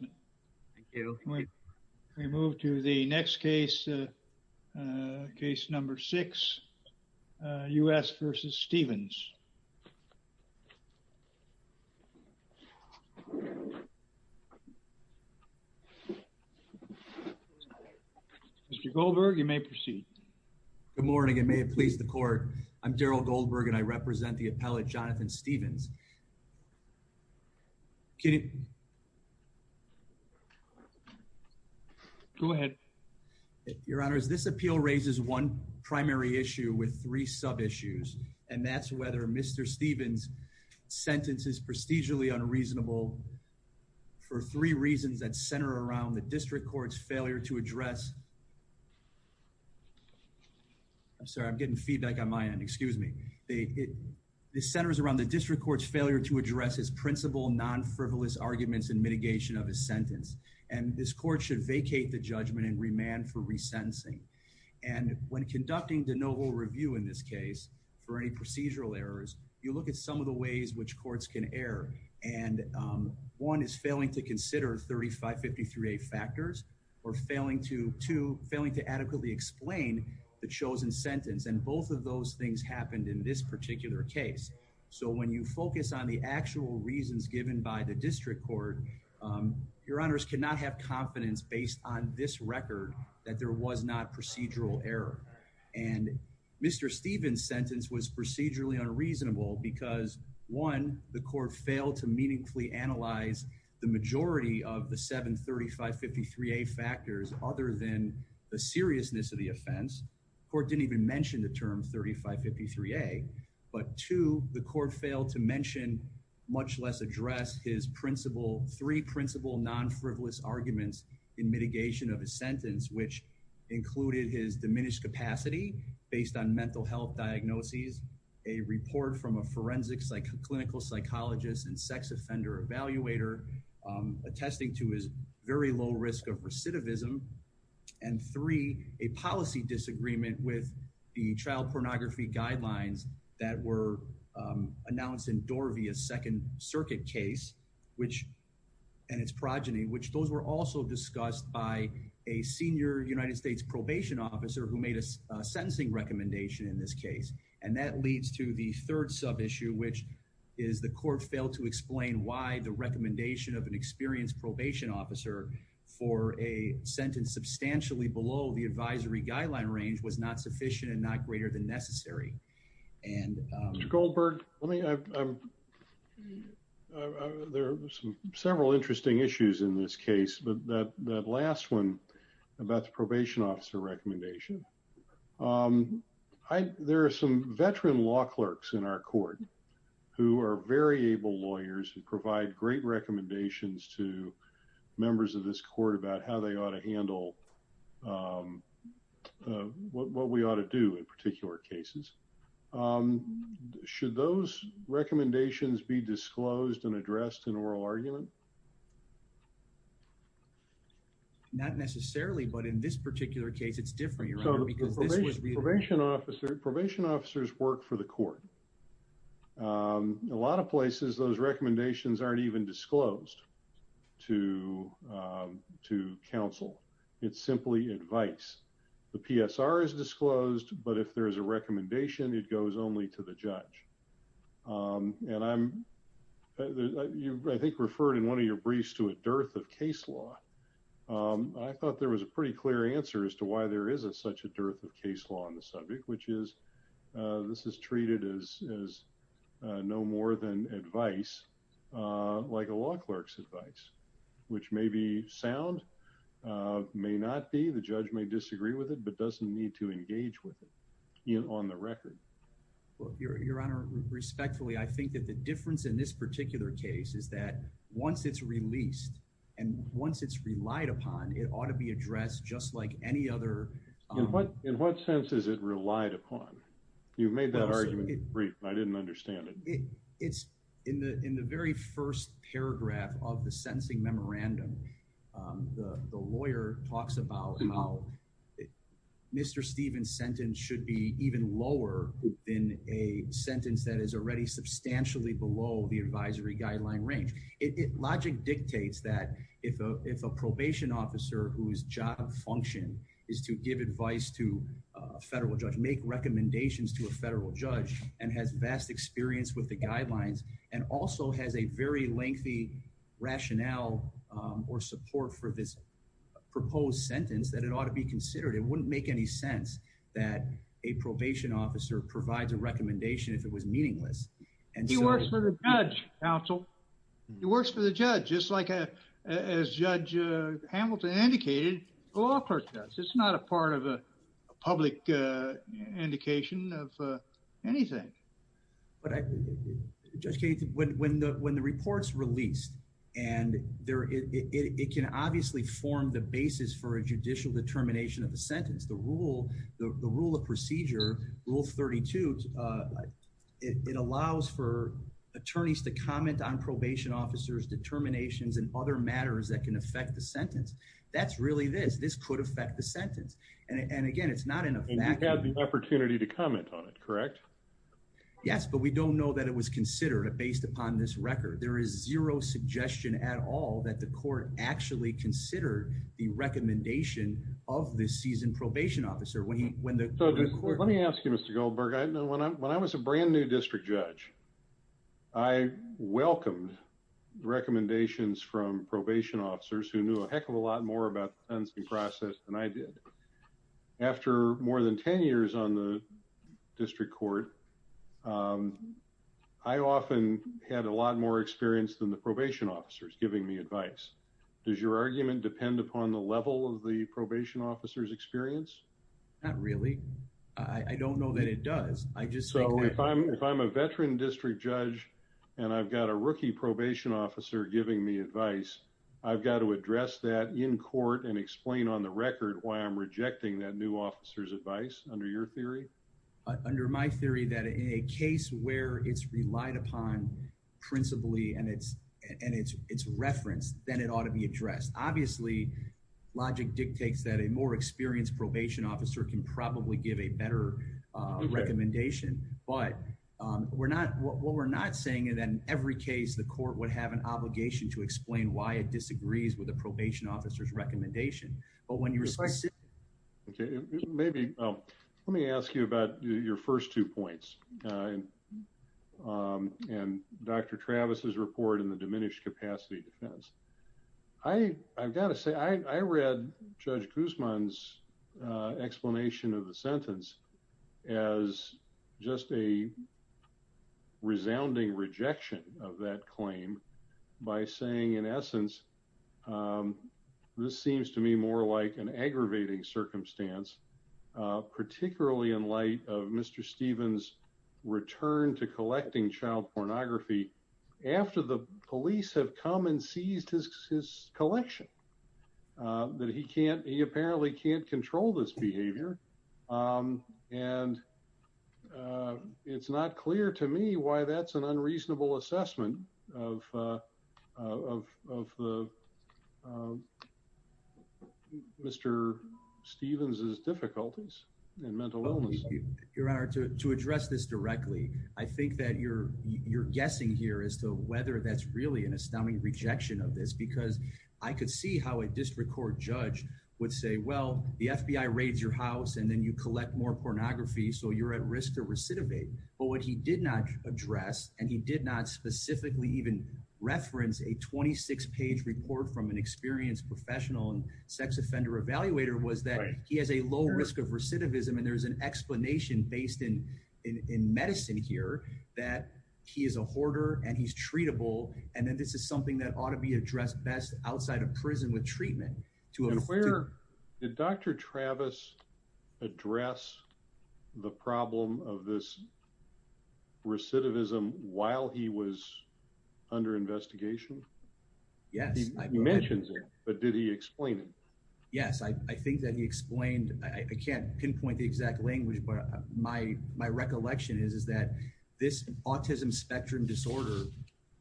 Good morning and may it please the court. I'm Daryl Goldberg and I represent the appellate Jonathan Stephens. Your Honor, this appeal raises one primary issue with three sub-issues and that's whether Mr. Stephens' sentence is prestigiously unreasonable for three reasons that center around the district court's failure to address... I'm sorry, I'm getting feedback on my end, excuse me. It centers around the district court's failure to address his principal non-frivolous arguments and mitigation of his sentence and this court should vacate the judgment and remand for resentencing and when conducting de novo review in this case for any procedural errors, you look at some of the ways which courts can err and one is failing to consider 3553A factors or failing to adequately explain the chosen sentence and both of those things happened in this particular case. So when you focus on the actual reasons given by the district court, your honors cannot have confidence based on this record that there was not procedural error and Mr. Stephens' sentence was procedurally unreasonable because one, the court failed to meaningfully analyze the majority of the 73553A factors other than the seriousness of the offense. The court didn't even mention the term 3553A but two, the court failed to mention much less address his three principal non-frivolous arguments in mitigation of his sentence which included his diminished capacity based on mental health diagnoses, a report from a forensic clinical psychologist and sex offender evaluator attesting to his very low risk of recidivism and three, a policy disagreement with the child pornography guidelines that were announced in Dorvia's second circuit case and its progeny which those were also discussed by a senior United States probation officer who made a sentencing recommendation in this case and that leads to the third sub-issue which is the court failed to explain why the recommendation of an experienced probation officer for a sentence substantially below the advisory guideline range was not sufficient and not greater than necessary and... Mr. Goldberg, there are several interesting issues in this case but that last one about the probation officer recommendation, there are some veteran law clerks in our court who are very able lawyers who provide great recommendations to members of this court about how they ought to handle what we ought to do in particular cases. Should those recommendations be disclosed and addressed in oral argument? Not necessarily but in this particular case it's different because this was... Probation officers work for the court. A lot of places those recommendations aren't even disclosed to counsel. It's simply advice. The PSR is disclosed but if there is a recommendation it goes only to the judge and I'm... you I think referred in one of your briefs to a dearth of case law. I thought there was a pretty clear answer as to why there isn't such a dearth of case law on the subject which is this is treated as no more than advice like a law clerk's advice which may be sound, may not be, the judge may disagree with it but doesn't need to engage with it on the record. Your honor, respectfully I think that the difference in this particular case is that once it's released and once it's relied upon it ought to be addressed just like any other... In what in what sense is it relied upon? You've made that argument brief and I didn't understand it. It's in the in the very first paragraph of the sentencing memorandum the lawyer talks about how Mr. Stephen's sentence should be even lower than a sentence that is already substantially below the advisory guideline range. It logic dictates that if a probation officer whose job function is to give advice to a federal judge, make recommendations to a federal judge and has vast experience with the guidelines and also has a very lengthy rationale or support for this proposed sentence that it ought to be considered. It wouldn't make any sense that a probation officer provides a recommendation if it was meaningless. And he works for the judge counsel. He works for the judge just like a as Judge Hamilton indicated, the law court does. It's not a part of a public indication of anything. But I just can't when when the when the report's released and there it it can obviously form the basis for a judicial determination of the sentence. The rule the rule of procedure rule 32 like it allows for attorneys to comment on probation officers determinations and other matters that can affect the sentence. That's really this this could affect the sentence. And again, it's not enough. And you have the opportunity to comment on it, correct? Yes, but we don't know that it was considered based upon this record. There is zero suggestion at all that the court actually considered the recommendation of this season probation officer when the court let me ask you, Mr. Goldberg, I know when I when I was a brand new district judge, I welcomed recommendations from probation officers who knew a heck of a lot more about the process than I did. After more than 10 years on the district court. I often had a lot more experience than the probation officers giving me advice. Does your argument depend upon the level of the probation officers experience? Not really. I don't know that it does. I just so if I'm if I'm a veteran district judge, and I've got a rookie probation officer giving me advice, I've got to address that in court and explain on the record why I'm rejecting that new officers advice under your theory. Under my theory that a case where it's relied upon principally and it's and it's it's referenced, then it ought to be addressed. Obviously, logic dictates that a more experienced probation officer can probably give a better recommendation. But we're not what we're not saying that in every case the court would have an obligation to explain why it disagrees with a probation officer's recommendation. But when you're slicing, maybe let me ask you about your first two points. And Dr. Travis's report in the diminished capacity defense. I I've got to say I read Judge Guzman's explanation of the sentence as just a resounding rejection of that claim by saying, in essence, this seems to me more like an aggravating circumstance, particularly in light of Mr. Stevens return to collecting child pornography after the police have come and seized his collection, that he can't he apparently can't control this behavior. And it's not clear to me why that's an unreasonable assessment of of of Mr. Stevens's difficulties and mental illness. Your Honor, to address this directly, I think that you're you're guessing here as to whether that's really an astounding rejection of this, because I could see how a district court judge would say, well, the FBI raids your house and then you collect more pornography. So you're at risk to recidivate. But what he did not address, and he did not specifically even reference a twenty six page report from an experienced professional and sex offender evaluator was that he has a low risk of recidivism. And there's an that he is a hoarder and he's treatable. And then this is something that ought to be addressed best outside of prison with treatment to where the doctor Travis address the problem of this recidivism while he was under investigation. Yes, he mentions it, but did he explain it? Yes, I think that he explained I can't pinpoint the exact language, but my my recollection is, is that this autism spectrum disorder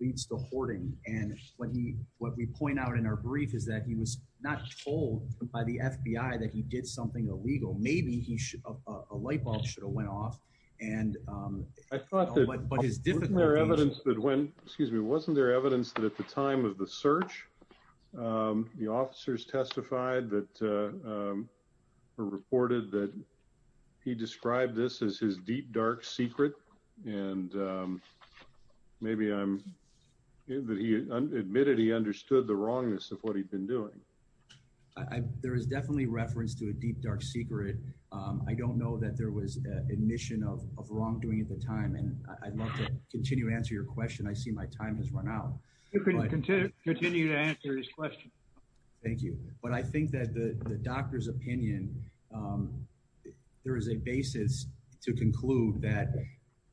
leads to hoarding. And what he what we point out in our brief is that he was not told by the FBI that he did something illegal. Maybe he should have a light bulb should have went off. And I thought that his difficult evidence that when excuse me, wasn't there evidence that at the time of the search, the officers testified that were reported that he described this as his deep, dark secret. And maybe I'm that he admitted he understood the wrongness of what he'd been doing. There is definitely reference to a deep, dark secret. I don't know that there was admission of of wrongdoing at the time. And I'd love to continue to answer your question. I see that the doctor's opinion, there is a basis to conclude that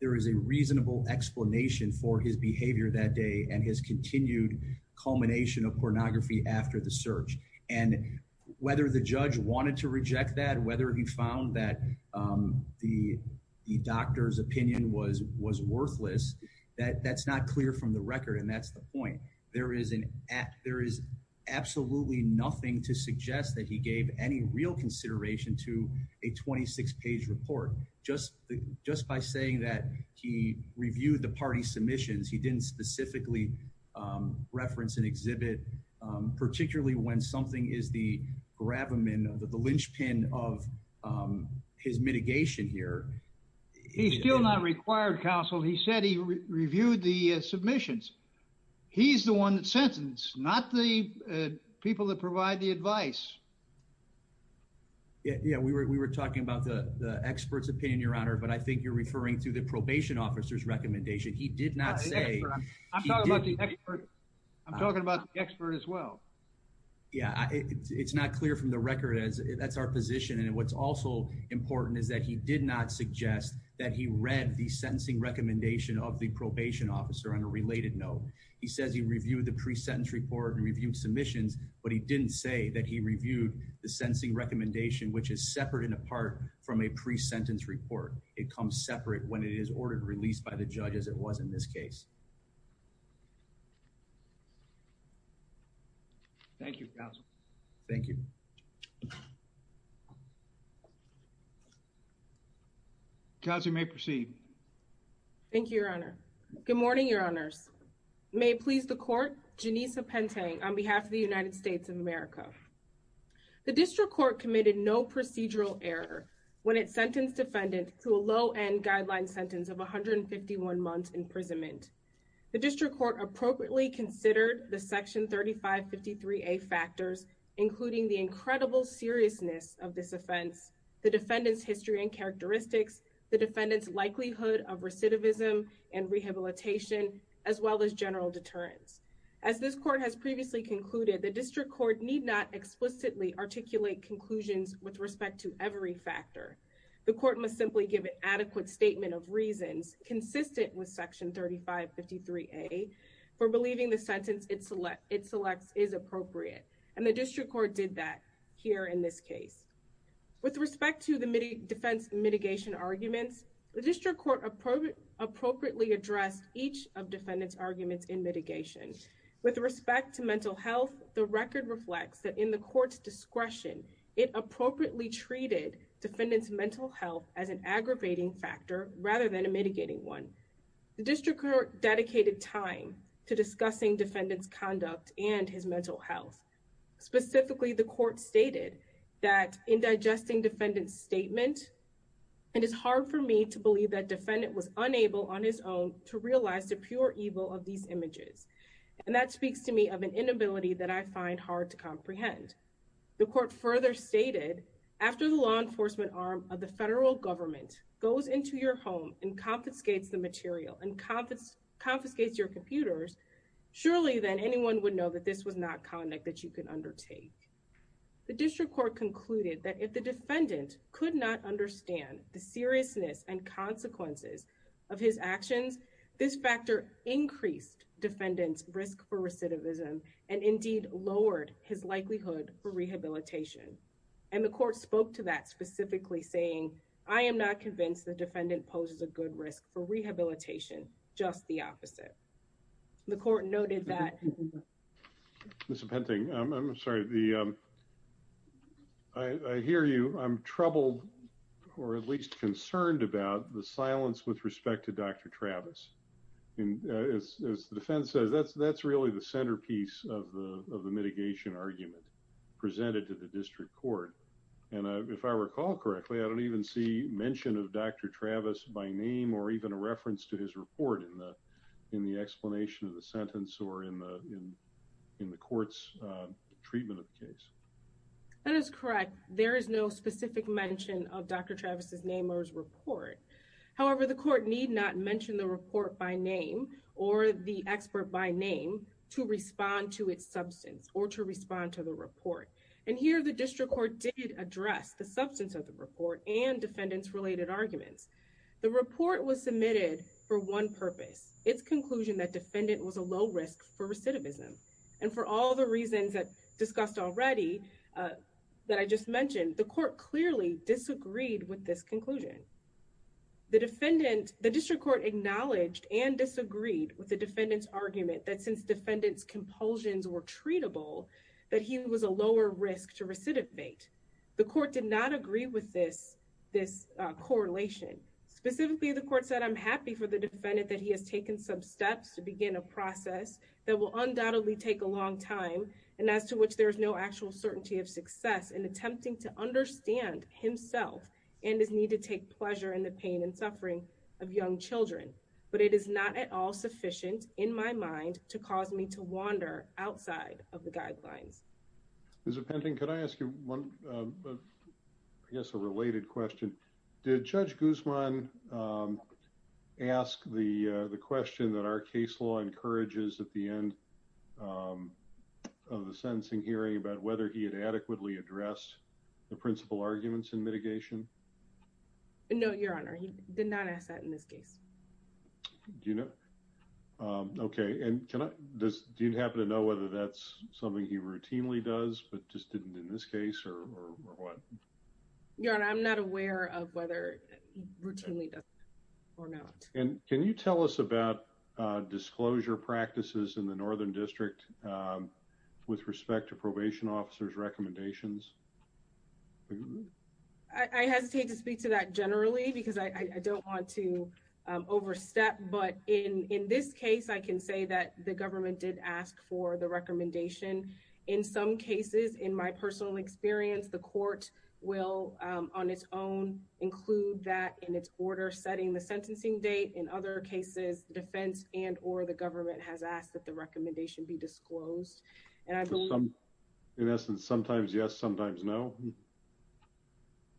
there is a reasonable explanation for his behavior that day and his continued culmination of pornography after the search. And whether the judge wanted to reject that, whether he found that the doctor's opinion was was worthless, that that's not clear from the record. And that's the point. There is an act, there is absolutely nothing to suggest that he gave any real consideration to a 26 page report. Just just by saying that he reviewed the party submissions, he didn't specifically reference an exhibit, particularly when something is the grab him in the linchpin of his mitigation here. He's still not required counsel. He said he reviewed the submissions. He's the one that sentence, not the people that provide the advice. Yeah, we were talking about the expert's opinion, Your Honor. But I think you're referring to the probation officer's recommendation. He did not say. I'm talking about the expert. I'm talking about the expert as well. Yeah, it's not clear from the record as that's our position. And what's also important is that he did not suggest that he read the sentencing recommendation of the note. He says he reviewed the pre sentence report and reviewed submissions, but he didn't say that he reviewed the sentencing recommendation, which is separate and apart from a pre sentence report. It comes separate when it is ordered released by the judges. It wasn't this case. Thank you. Thank you. Thank you, Your Honor. Good morning, Your Honors. May it please the court. Janissa Pentang on behalf of the United States of America. The district court committed no procedural error when it sentenced defendant to a low end guideline sentence of 151 months imprisonment. The district court appropriately considered the section 35 53 a factors, including the incredible seriousness of this offense, the defendant's history and characteristics, the defendant's likelihood of recidivism and rehabilitation, as well as general deterrence. As this court has previously concluded, the district court need not explicitly articulate conclusions with respect to every factor. The court must simply give an adequate statement of reasons consistent with section 35 53 a for leaving the sentence it selects is appropriate. And the district court did that here in this case. With respect to the defense mitigation arguments, the district court appropriately addressed each of defendant's arguments in mitigation. With respect to mental health, the record reflects that in the court's discretion, it appropriately treated defendant's mental health as an defendant's conduct and his mental health. Specifically, the court stated that in digesting defendant's statement, it is hard for me to believe that defendant was unable on his own to realize the pure evil of these images. And that speaks to me of an inability that I find hard to comprehend. The court further stated, after the law enforcement arm of the federal government goes into your home and confiscates the material and confiscates your computers, surely then anyone would know that this was not conduct that you can undertake. The district court concluded that if the defendant could not understand the seriousness and consequences of his actions, this factor increased defendant's risk for recidivism and indeed lowered his likelihood for rehabilitation. And the court spoke to that the defendant poses a good risk for rehabilitation, just the opposite. The court noted that Mr. Penting, I'm sorry. I hear you. I'm troubled or at least concerned about the silence with respect to Dr. Travis. And as the defense says, that's really the centerpiece of the mitigation argument presented to the district court. And if I recall correctly, I don't even see mention of Dr. Travis by name or even a reference to his report in the explanation of the sentence or in the court's treatment of the case. That is correct. There is no specific mention of Dr. Travis's name or his report. However, the court need not mention the report by name or the expert by name to respond to its substance or to respond to the report. And here the district court did address the substance of the report and defendant's related arguments. The report was submitted for one purpose, its conclusion that defendant was a low risk for recidivism. And for all the reasons that discussed already that I just mentioned, the court clearly disagreed with this conclusion. The defendant, the district court acknowledged and disagreed with the defendant's argument that since defendant's compulsions were treatable, that he was a lower risk to recidivate. The court did not agree with this correlation. Specifically, the court said, I'm happy for the defendant that he has taken some steps to begin a process that will undoubtedly take a long time and as to which there is no actual certainty of success in attempting to understand himself and his need to take pleasure in the pain and suffering of young children. But it is not at all sufficient in my mind to cause me to wander outside of the guidelines. Mr. Pending, could I ask you one, I guess a related question. Did Judge Guzman ask the question that our case law encourages at the end of the sentencing hearing about whether he had adequately addressed the principal arguments in mitigation? No, your honor. He did not ask that in this case. Do you know? Okay. And can I just do you happen to know whether that's something he routinely does, but just didn't in this case or what? Your honor, I'm not aware of whether routinely or not. And can you tell us about disclosure practices in the Northern District with respect to probation officers recommendations? I hesitate to speak to that generally because I don't want to overstep. But in this case, I can say that the government did ask for the recommendation. In some cases, in my personal experience, the court will on its own include that in its order setting the sentencing date. In other cases, the defense and or the government has asked that the recommendation be disclosed. And I believe in essence, sometimes yes, sometimes no.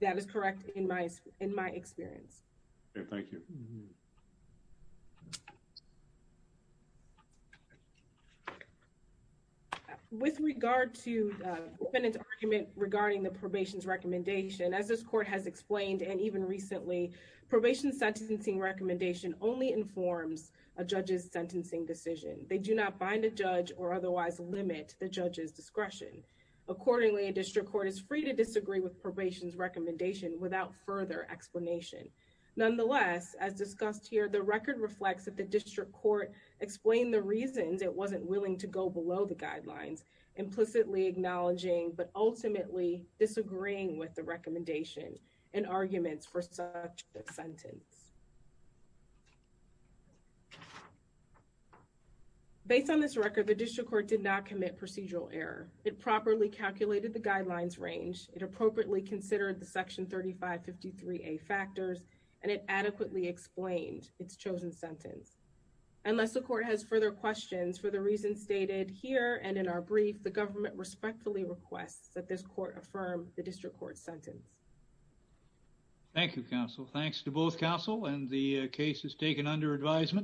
That is correct in my experience. Okay. Thank you. With regard to the argument regarding the probation's recommendation, as this court has explained, and even recently, probation sentencing recommendation only informs a judge's sentencing decision. They do not bind a judge or otherwise limit the judge's discretion. Accordingly, a district court is free to disagree with probation's recommendation without further explanation. Nonetheless, as discussed here, the record reflects that the district court explained the reasons it wasn't willing to go below the guidelines, implicitly acknowledging, but ultimately disagreeing with the recommendation and arguments for such a sentence. Based on this record, the district court did not commit procedural error. It properly calculated the guidelines range. It appropriately considered the section 3553A factors, and it adequately explained its chosen sentence. Unless the court has further questions for the reasons stated here and in our brief, the government respectfully requests that this court affirm the district court sentence. Thank you, counsel. Thanks to both counsel and the cases taken under advisement.